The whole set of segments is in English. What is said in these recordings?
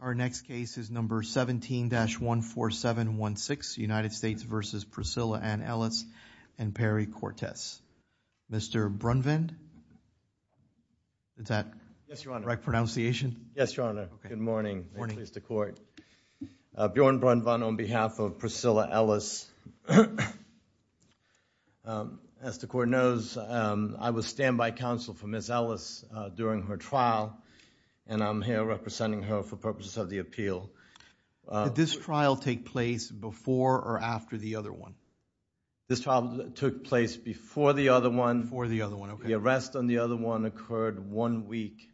Our next case is number 17-14716, United States v. Priscilla Ann Ellis and Perry Cortez. Mr. Brunvand? Is that the right pronunciation? Yes, Your Honor. Good morning. I'm pleased to court. Bjorn Brunvand on behalf of Priscilla Ellis. As the court knows, I was standby counsel for Ms. Ellis during her trial, and I'm here representing her for purposes of the appeal. Did this trial take place before or after the other one? This trial took place before the other one. Before the other one, okay. The arrest on the other one occurred one week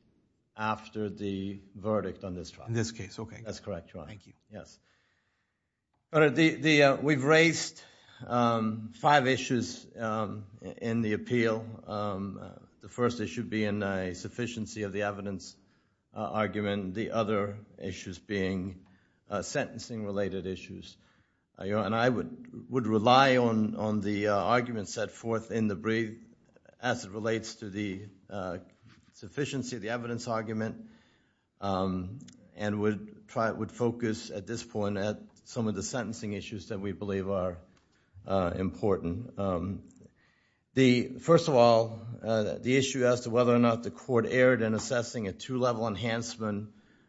after the verdict on this trial. In this case, okay. That's correct, Your Honor. Thank you. Yes. Your Honor, we've raised five issues in the appeal. The first issue being a sufficiency of the evidence argument, the other issues being sentencing-related issues. And I would rely on the arguments set forth in the brief as it relates to the sufficiency of the evidence argument and would focus at this point on some of the sentencing issues that we believe are important. First of all, the issue as to whether or not the court erred in assessing a two-level enhancement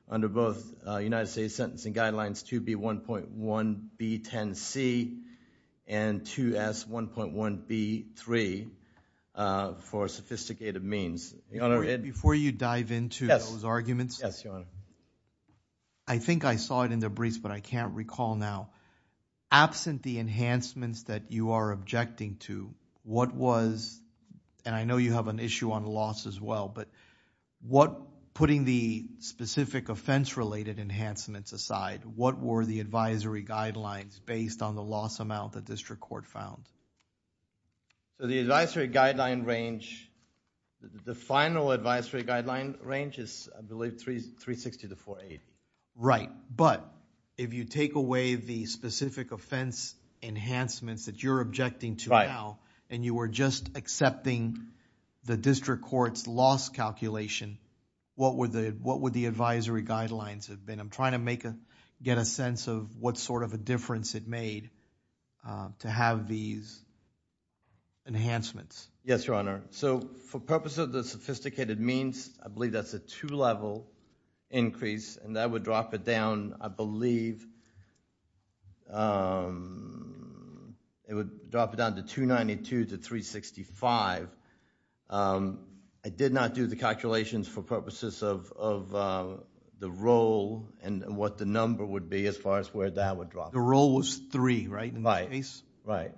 under both United States Sentencing Guidelines 2B1.1B10C and 2S1.1B3 for sophisticated means. Before you dive into those arguments, I think I saw it in the briefs, but I can't recall now. Absent the enhancements that you are objecting to, what was, and I know you have an issue on loss as well, but what, putting the specific offense-related enhancements aside, what were the advisory guidelines based on the loss amount the district court found? So the advisory guideline range, the final advisory guideline range is, I believe, 360 to 480. Right, but if you take away the specific offense enhancements that you're objecting to now and you were just accepting the district court's loss calculation, what would the advisory guidelines have been? I'm trying to make a, get a sense of what sort of a difference it made to have these enhancements. Yes, Your Honor. So for purpose of the sophisticated means, I believe that's a two-level increase, and that would drop it down, I believe, it would drop it down to 292 to 365. I did not do the calculations for purposes of the role and what the number would be as far as where that would drop. The role was three, right, in this case? Right, right.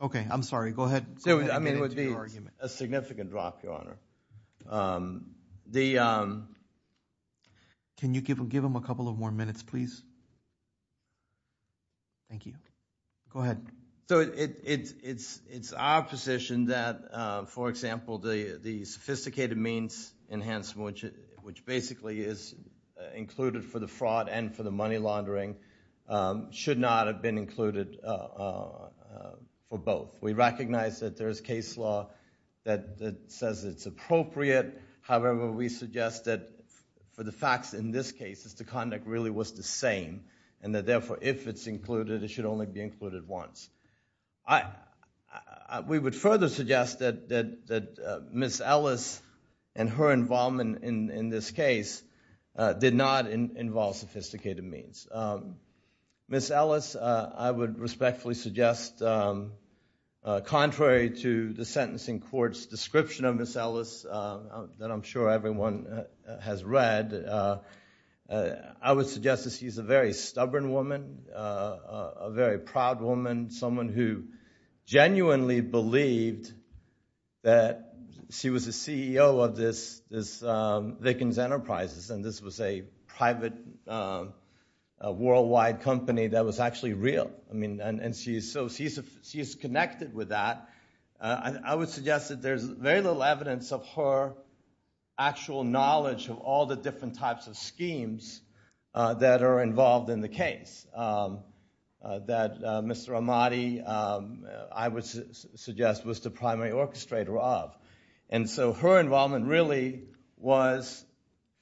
Okay, I'm sorry. Go ahead. I mean, it would be a significant drop, Your Honor. Can you give them a couple of more minutes, please? Thank you. Go ahead. So it's our position that, for example, the sophisticated means enhancement, which basically is included for the fraud and for the money laundering, should not have been included for both. We recognize that there is case law that says it's appropriate. However, we suggest that for the facts in this case, the conduct really was the same, and that therefore if it's included, it should only be included once. We would further suggest that Ms. Ellis and her involvement in this case did not involve sophisticated means. Ms. Ellis, I would respectfully suggest, contrary to the sentencing court's description of Ms. Ellis, that I'm sure everyone has read, I would suggest that she's a very stubborn woman, a very proud woman, someone who genuinely believed that she was the CEO of this Vickens Enterprises, and this was a private worldwide company that was actually real. I mean, and so she's connected with that. I would suggest that there's very little evidence of her actual knowledge of all the different types of schemes that are involved in the case that Mr. Ahmadi, I would suggest, was the primary orchestrator of. And so her involvement really was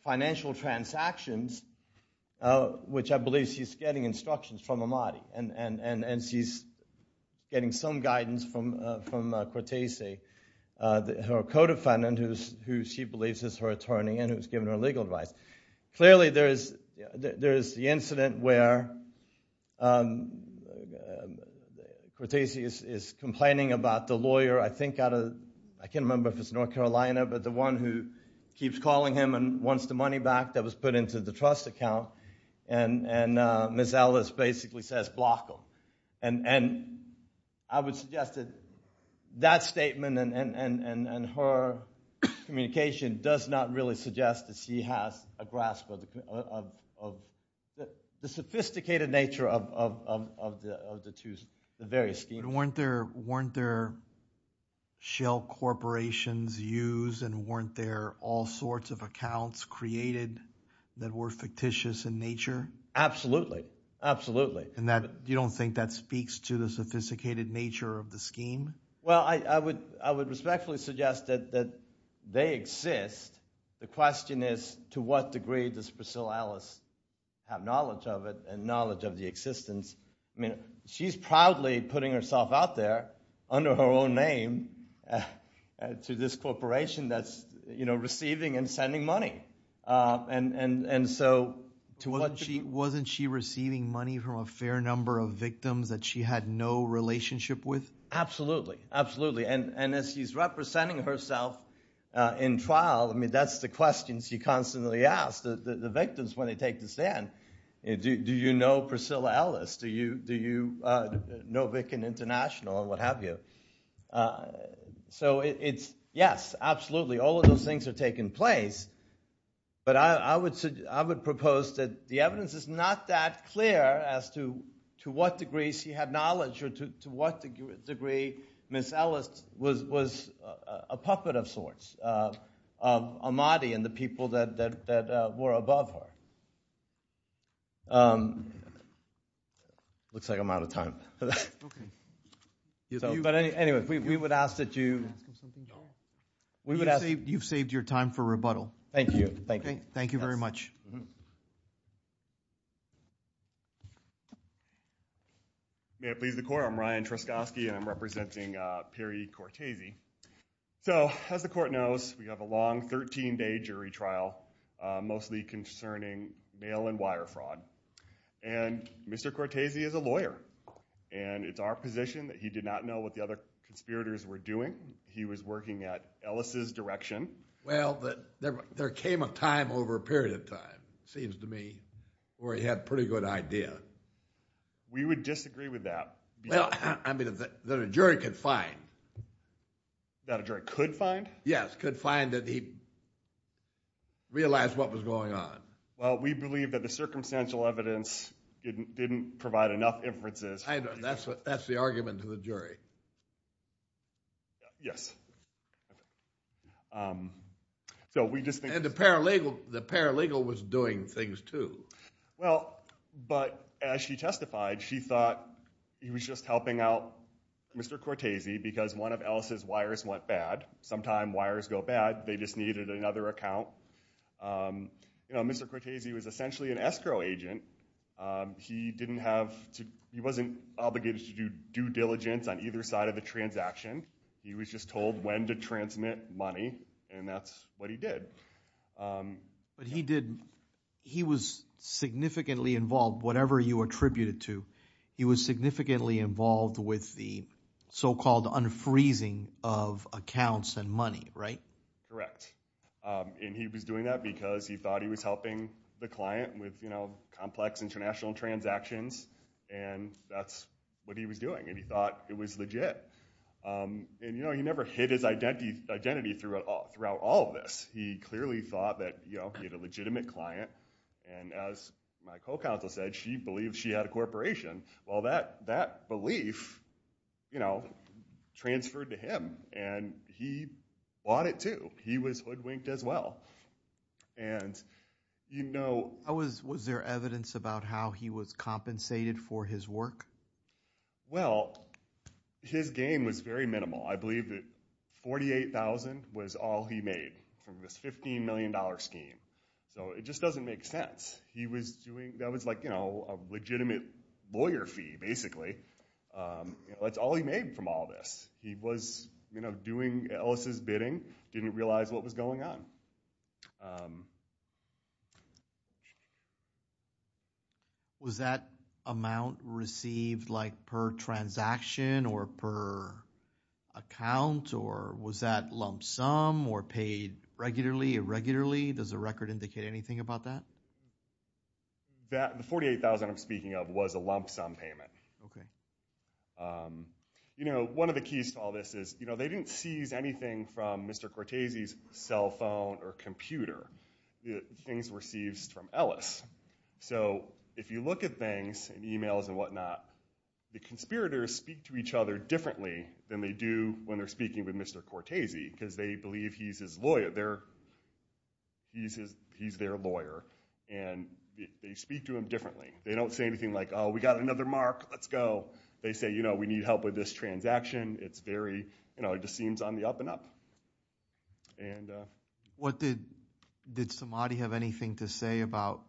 financial transactions, which I believe she's getting instructions from Ahmadi, and she's getting some guidance from Cortese, her co-defendant, who she believes is her attorney and who's given her legal advice. Clearly there is the incident where Cortese is complaining about the lawyer, I think out of, I can't remember if it's North Carolina, but the one who keeps calling him and wants the money back that was put into the trust account, and Ms. Ellis basically says, block him. And I would suggest that that statement and her communication does not really suggest that she has a grasp of the sophisticated nature of the various schemes. But weren't there shell corporations used and weren't there all sorts of accounts created that were fictitious in nature? Absolutely, absolutely. And you don't think that speaks to the sophisticated nature of the scheme? Well, I would respectfully suggest that they exist. The question is to what degree does Priscilla Ellis have knowledge of it and knowledge of the existence? She's proudly putting herself out there under her own name to this corporation that's receiving and sending money. And so to what degree? Wasn't she receiving money from a fair number of victims that she had no relationship with? Absolutely, absolutely. And as she's representing herself in trial, that's the question she constantly asks the victims when they take the stand. Do you know Priscilla Ellis? Do you know Vic and International and what have you? So it's yes, absolutely, all of those things are taking place. But I would propose that the evidence is not that clear as to what degree she had knowledge or to what degree Miss Ellis was a puppet of sorts of Ahmadi and the people that were above her. It looks like I'm out of time. But anyway, we would ask that you – we would ask – You've saved your time for rebuttal. Thank you, thank you. Thank you very much. Thank you very much. May it please the court, I'm Ryan Truskoski and I'm representing Perry Cortese. So as the court knows, we have a long 13-day jury trial mostly concerning mail and wire fraud. And Mr. Cortese is a lawyer, and it's our position that he did not know what the other conspirators were doing. He was working at Ellis' direction. Well, there came a time over a period of time, it seems to me, where he had a pretty good idea. We would disagree with that. Well, I mean that a jury could find. That a jury could find? Yes, could find that he realized what was going on. Well, we believe that the circumstantial evidence didn't provide enough inferences. I know, that's the argument to the jury. Yes. And the paralegal was doing things too. Well, but as she testified, she thought he was just helping out Mr. Cortese because one of Ellis' wires went bad. Sometimes wires go bad, they just needed another account. You know, Mr. Cortese was essentially an escrow agent. He wasn't obligated to do due diligence on either side of the transaction. He was just told when to transmit money, and that's what he did. But he was significantly involved, whatever you attribute it to. He was significantly involved with the so-called unfreezing of accounts and money, right? Correct. And he was doing that because he thought he was helping the client with complex international transactions, and that's what he was doing. And he thought it was legit. And he never hid his identity throughout all of this. He clearly thought that he had a legitimate client, and as my co-counsel said, she believed she had a corporation. Well, that belief transferred to him, and he bought it too. So he was hoodwinked as well. And, you know— Was there evidence about how he was compensated for his work? Well, his gain was very minimal. I believe that $48,000 was all he made from this $15 million scheme. So it just doesn't make sense. He was doing—that was like a legitimate lawyer fee, basically. That's all he made from all this. He was doing Ellis' bidding, didn't realize what was going on. Was that amount received like per transaction or per account, or was that lump sum or paid regularly, irregularly? Does the record indicate anything about that? The $48,000 I'm speaking of was a lump sum payment. Okay. You know, one of the keys to all this is they didn't seize anything from Mr. Cortese's cell phone or computer. Things were seized from Ellis. So if you look at things in emails and whatnot, the conspirators speak to each other differently than they do when they're speaking with Mr. Cortese, because they believe he's their lawyer, and they speak to him differently. They don't say anything like, oh, we got another mark. Let's go. They say, you know, we need help with this transaction. It's very—you know, it just seems on the up and up. What did—did Samadi have anything to say about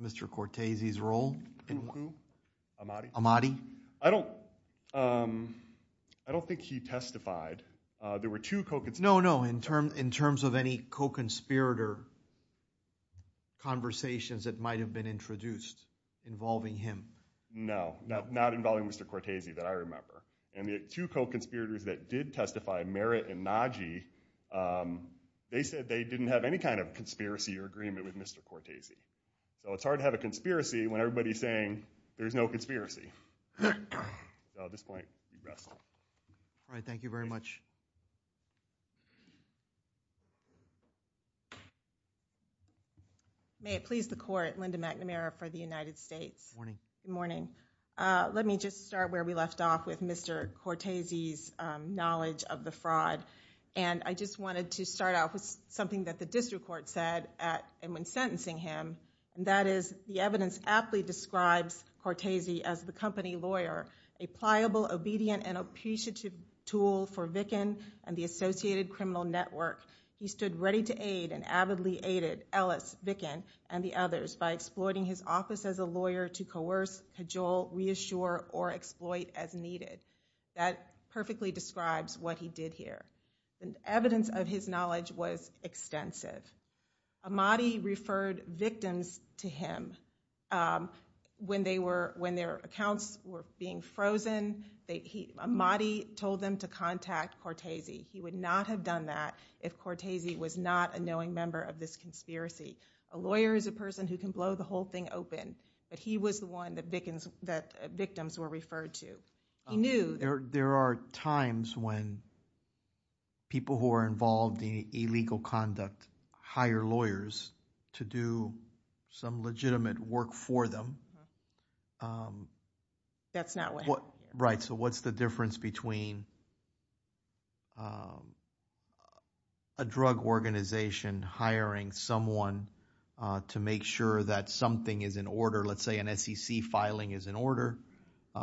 Mr. Cortese's role? Who, who? Amati. Amati? I don't—I don't think he testified. There were two co— No, no, in terms of any co-conspirator conversations that might have been introduced involving him. No, not involving Mr. Cortese that I remember. And the two co-conspirators that did testify, Merritt and Nagy, they said they didn't have any kind of conspiracy or agreement with Mr. Cortese. So it's hard to have a conspiracy when everybody's saying there's no conspiracy. So at this point, you rest. All right. Thank you very much. May it please the Court, Linda McNamara for the United States. Good morning. Good morning. Let me just start where we left off with Mr. Cortese's knowledge of the fraud. And I just wanted to start off with something that the district court said at—and when sentencing him. And that is, the evidence aptly describes Cortese as the company lawyer, a pliable, obedient, and appreciative tool for Vickin and the associated criminal network. He stood ready to aid and avidly aided Ellis, Vickin, and the others by exploiting his office as a lawyer to coerce, cajole, reassure, or exploit as needed. That perfectly describes what he did here. And evidence of his knowledge was extensive. Ahmadi referred victims to him when their accounts were being frozen. Ahmadi told them to contact Cortese. He would not have done that if Cortese was not a knowing member of this conspiracy. A lawyer is a person who can blow the whole thing open. But he was the one that victims were referred to. There are times when people who are involved in illegal conduct hire lawyers to do some legitimate work for them. That's not what happened. Right. So what's the difference between a drug organization hiring someone to make sure that something is in order? Let's say an SEC filing is in order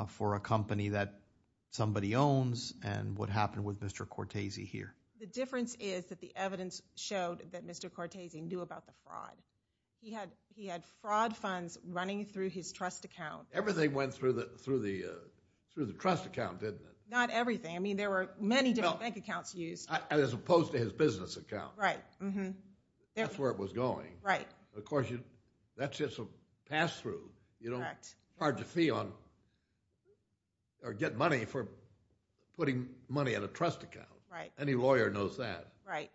for a company that somebody owns, and what happened with Mr. Cortese here? The difference is that the evidence showed that Mr. Cortese knew about the fraud. He had fraud funds running through his trust account. Everything went through the trust account, didn't it? Not everything. I mean, there were many different bank accounts used. As opposed to his business account. Right. That's where it was going. Right. Of course, that's just a pass-through. Correct. You don't charge a fee or get money for putting money in a trust account. Right. Any lawyer knows that. Right.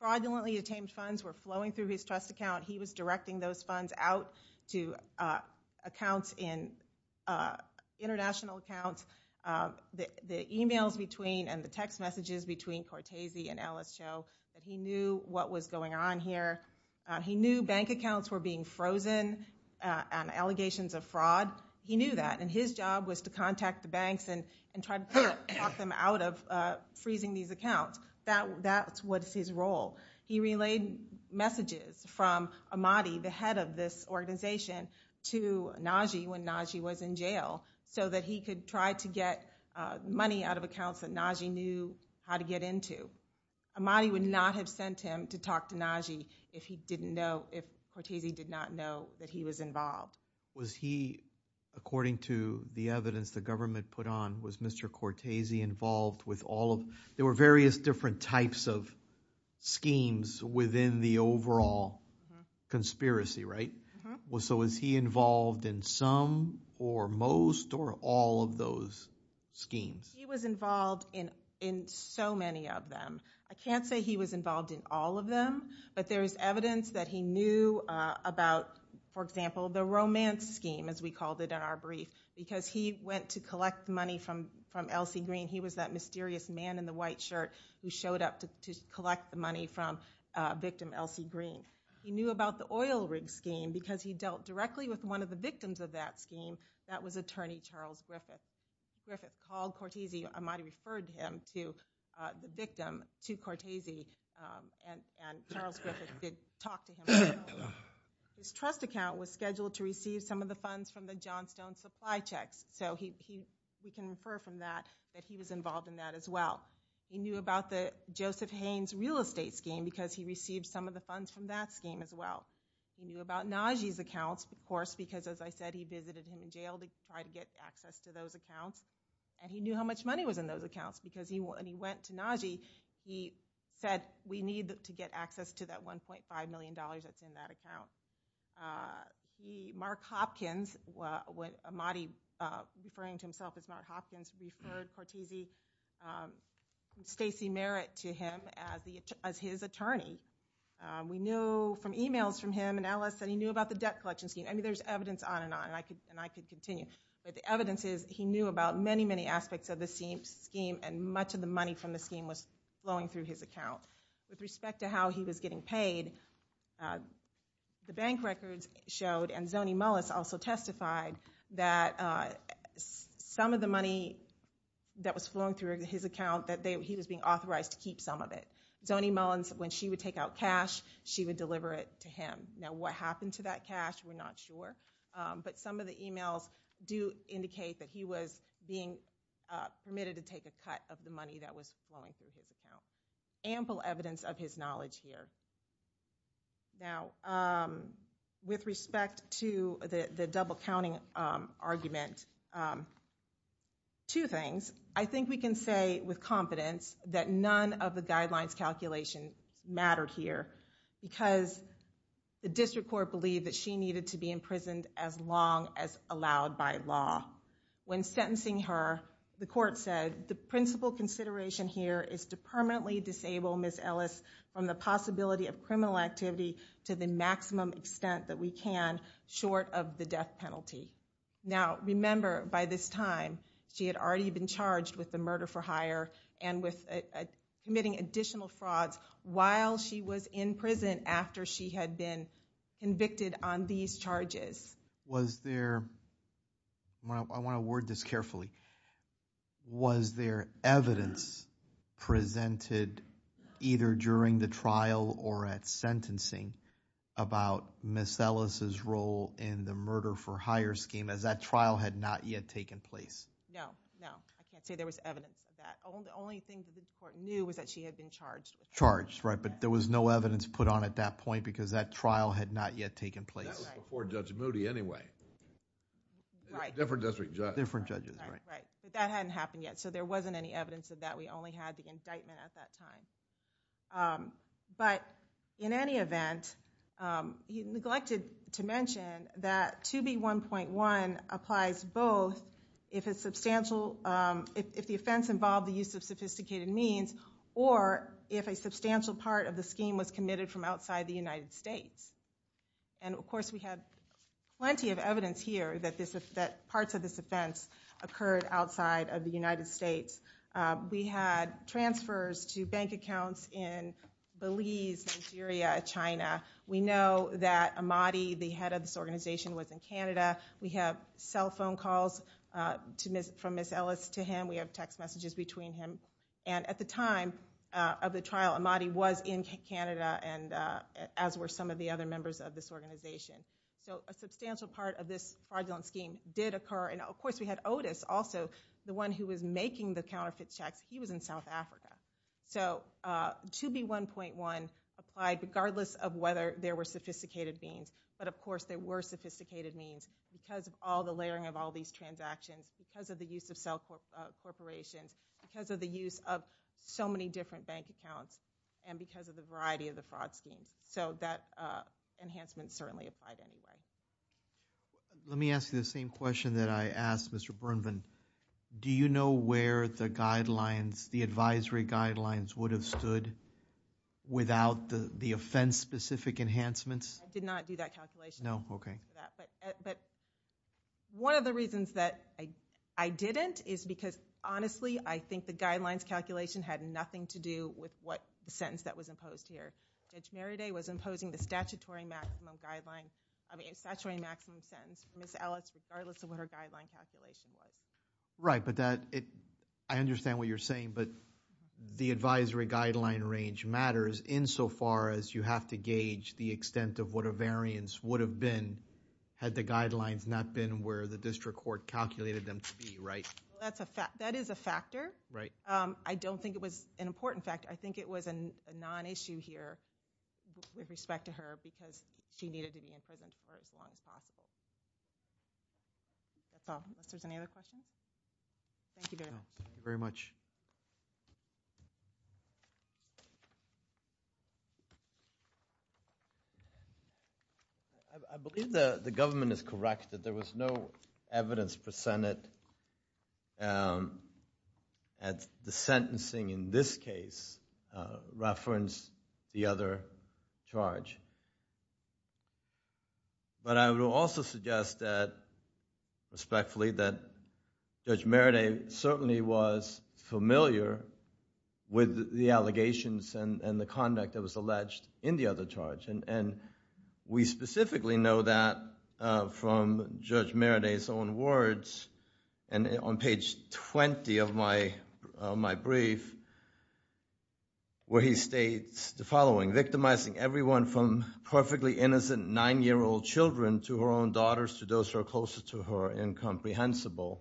Fraudulently attained funds were flowing through his trust account. He was directing those funds out to accounts in international accounts. The e-mails and the text messages between Cortese and Ellis Cho, he knew what was going on here. He knew bank accounts were being frozen on allegations of fraud. He knew that, and his job was to contact the banks and try to talk them out of freezing these accounts. That's what's his role. He relayed messages from Ahmadi, the head of this organization, to Najee when Najee was in jail, so that he could try to get money out of accounts that Najee knew how to get into. Ahmadi would not have sent him to talk to Najee if he didn't know, if Cortese did not know that he was involved. Was he, according to the evidence the government put on, was Mr. Cortese involved with all of them? There were various different types of schemes within the overall conspiracy, right? So was he involved in some or most or all of those schemes? He was involved in so many of them. I can't say he was involved in all of them, but there is evidence that he knew about, for example, the romance scheme, as we called it in our brief, because he went to collect money from Elsie Green. He was that mysterious man in the white shirt who showed up to collect the money from victim Elsie Green. He knew about the oil rig scheme because he dealt directly with one of the victims of that scheme. That was attorney Charles Griffith. Griffith called Cortese, Ahmadi referred him to the victim, to Cortese, and Charles Griffith did talk to him as well. His trust account was scheduled to receive some of the funds from the Johnstone supply checks, so we can refer from that that he was involved in that as well. He knew about the Joseph Haynes real estate scheme because he received some of the funds from that scheme as well. He knew about Najee's accounts, of course, because, as I said, he visited him in jail to try to get access to those accounts, and he knew how much money was in those accounts because when he went to Najee, he said we need to get access to that $1.5 million that's in that account. Mark Hopkins, Ahmadi referring to himself as Mark Hopkins, referred Cortese Stacy Merritt to him as his attorney. We knew from e-mails from him and Ellis that he knew about the debt collection scheme. I mean, there's evidence on and on, and I could continue, but the evidence is he knew about many, many aspects of the scheme, and much of the money from the scheme was flowing through his account. With respect to how he was getting paid, the bank records showed, and Zony Mullis also testified that some of the money that was flowing through his account, that he was being authorized to keep some of it. Zony Mullis, when she would take out cash, she would deliver it to him. Now, what happened to that cash, we're not sure, but some of the e-mails do indicate that he was being permitted to take a cut of the money that was flowing through his account. Ample evidence of his knowledge here. Now, with respect to the double-counting argument, two things. I think we can say with confidence that none of the guidelines calculations mattered here, because the district court believed that she needed to be imprisoned as long as allowed by law. When sentencing her, the court said, the principal consideration here is to permanently disable Ms. Ellis from the possibility of criminal activity to the maximum extent that we can, short of the death penalty. Now, remember, by this time, she had already been charged with the murder for hire and with committing additional frauds while she was in prison after she had been convicted on these charges. Was there, I want to word this carefully, was there evidence presented either during the trial or at sentencing about Ms. Ellis' role in the murder for hire scheme as that trial had not yet taken place? No, no. I can't say there was evidence of that. The only thing that the court knew was that she had been charged. Charged, right, but there was no evidence put on at that point because that trial had not yet taken place. That was before Judge Moody anyway. Right. Different district judge. Different judges, right. Right, but that hadn't happened yet, so there wasn't any evidence of that. We only had the indictment at that time. But in any event, he neglected to mention that 2B1.1 applies both if the offense involved the use of sophisticated means or if a substantial part of the scheme was committed from outside the United States. And, of course, we had plenty of evidence here that parts of this offense occurred outside of the United States. We had transfers to bank accounts in Belize, Nigeria, China. We know that Amadi, the head of this organization, was in Canada. We have cell phone calls from Ms. Ellis to him. We have text messages between him. And at the time of the trial, Amadi was in Canada as were some of the other members of this organization. So a substantial part of this fraudulent scheme did occur. And, of course, we had Otis also, the one who was making the counterfeit checks. He was in South Africa. So 2B1.1 applied regardless of whether there were sophisticated means. But, of course, there were sophisticated means because of all the layering of all these transactions, because of the use of cell corporations, because of the use of so many different bank accounts, and because of the variety of the fraud schemes. So that enhancement certainly applied anyway. Let me ask you the same question that I asked Mr. Bernvin. Do you know where the guidelines, the advisory guidelines, would have stood without the offense-specific enhancements? I did not do that calculation. No? Okay. But one of the reasons that I didn't is because, honestly, I think the guidelines calculation had nothing to do with what the sentence that was imposed here. Judge Merriday was imposing the statutory maximum sentence for Ms. Ellis regardless of what her guideline calculation was. Right. But I understand what you're saying. But the advisory guideline range matters insofar as you have to gauge the extent of what a variance would have been had the guidelines not been where the district court calculated them to be, right? Well, that is a factor. Right. I don't think it was an important factor. In fact, I think it was a non-issue here with respect to her because she needed to be in prison for as long as possible. That's all. Unless there's any other questions? Thank you very much. Thank you very much. I believe the government is correct that there was no evidence presented at the sentencing in this case referenced the other charge. But I would also suggest that, respectfully, that Judge Merriday certainly was familiar with the allegations and the conduct that was alleged in the other charge. And we specifically know that from Judge Merriday's own words on page 20 of my brief where he states the following, victimizing everyone from perfectly innocent nine-year-old children to her own daughters to those who are closer to her and incomprehensible.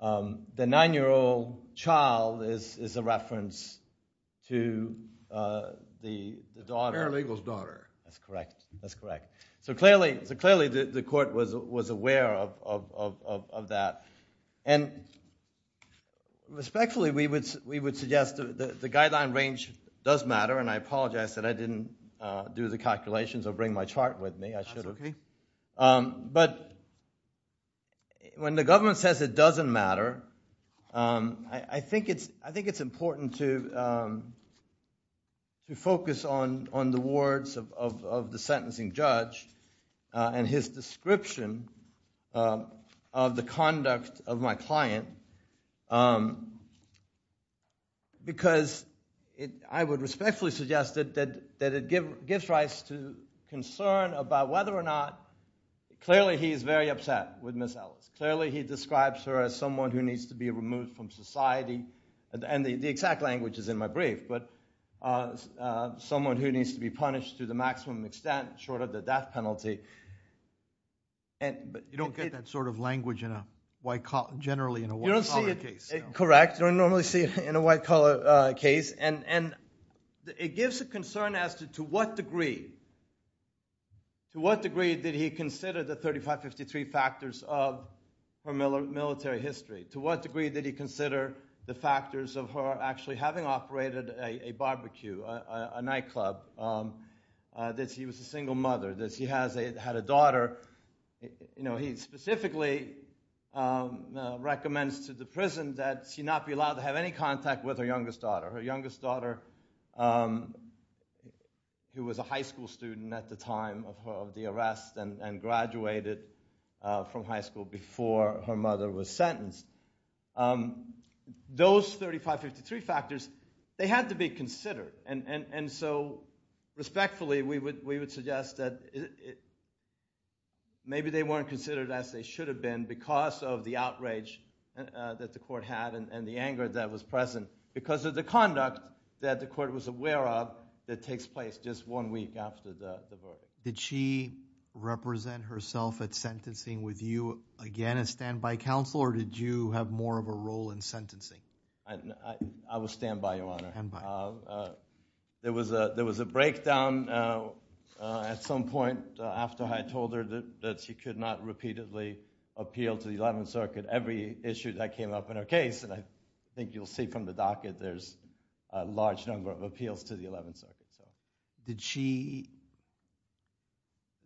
The nine-year-old child is a reference to the daughter. A paralegal's daughter. That's correct. That's correct. So clearly the court was aware of that. And respectfully, we would suggest that the guideline range does matter. And I apologize that I didn't do the calculations or bring my chart with me. That's okay. But when the government says it doesn't matter, I think it's important to focus on the words of the sentencing judge and his description of the conduct of my client because I would respectfully suggest that it gives rise to concern about whether or not clearly he is very upset with Ms. Ellis. Clearly he describes her as someone who needs to be removed from society. And the exact language is in my brief. Someone who needs to be punished to the maximum extent short of the death penalty. You don't get that sort of language generally in a white collar case. Correct. You don't normally see it in a white collar case. And it gives a concern as to what degree, to what degree did he consider the 3553 factors of her military history? To what degree did he consider the factors of her actually having operated a barbecue, a nightclub? That she was a single mother. That she had a daughter. He specifically recommends to the prison that she not be allowed to have any contact with her youngest daughter. Her youngest daughter who was a high school student at the time of the arrest and graduated from high school before her mother was sentenced. Those 3553 factors, they had to be considered. And so respectfully we would suggest that maybe they weren't considered as they should have been because of the outrage that the court had and the anger that was present because of the conduct that the court was aware of that takes place just one week after the verdict. Did she represent herself at sentencing with you again as standby counsel? Or did you have more of a role in sentencing? I was standby, Your Honor. There was a breakdown at some point after I told her that she could not repeatedly appeal to the 11th Circuit. Every issue that came up in her case, and I think you'll see from the docket, there's a large number of appeals to the 11th Circuit. Did she,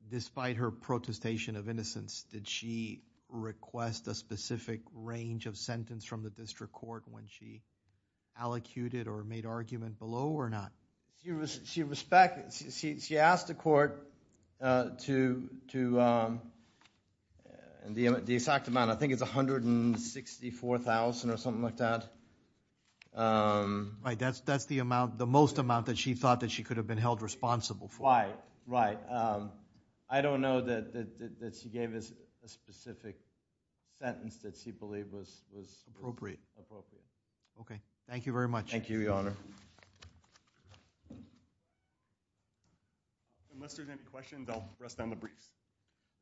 despite her protestation of innocence, did she request a specific range of sentence from the district court when she allocated or made argument below or not? She asked the court to, the exact amount I think is $164,000 or something like that. Right, that's the most amount that she thought that she could have been held responsible for. Right, right. I don't know that she gave a specific sentence that she believed was appropriate. Okay, thank you very much. Thank you, Your Honor. Unless there's any questions, I'll rest on the briefs.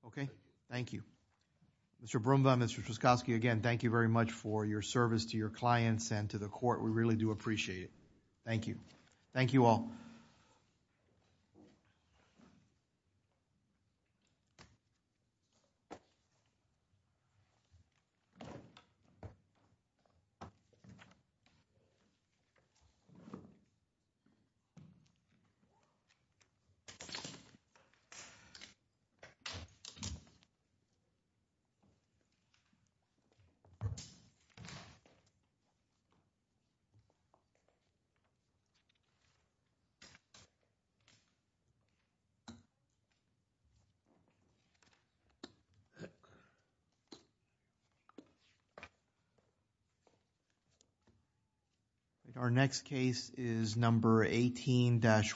Okay, thank you. Mr. Brumbaugh and Mr. Truskoski, again, thank you very much for your service to your clients and to the court. We really do appreciate it. Thank you. Thank you all. Thank you. Our next case is number 18-1.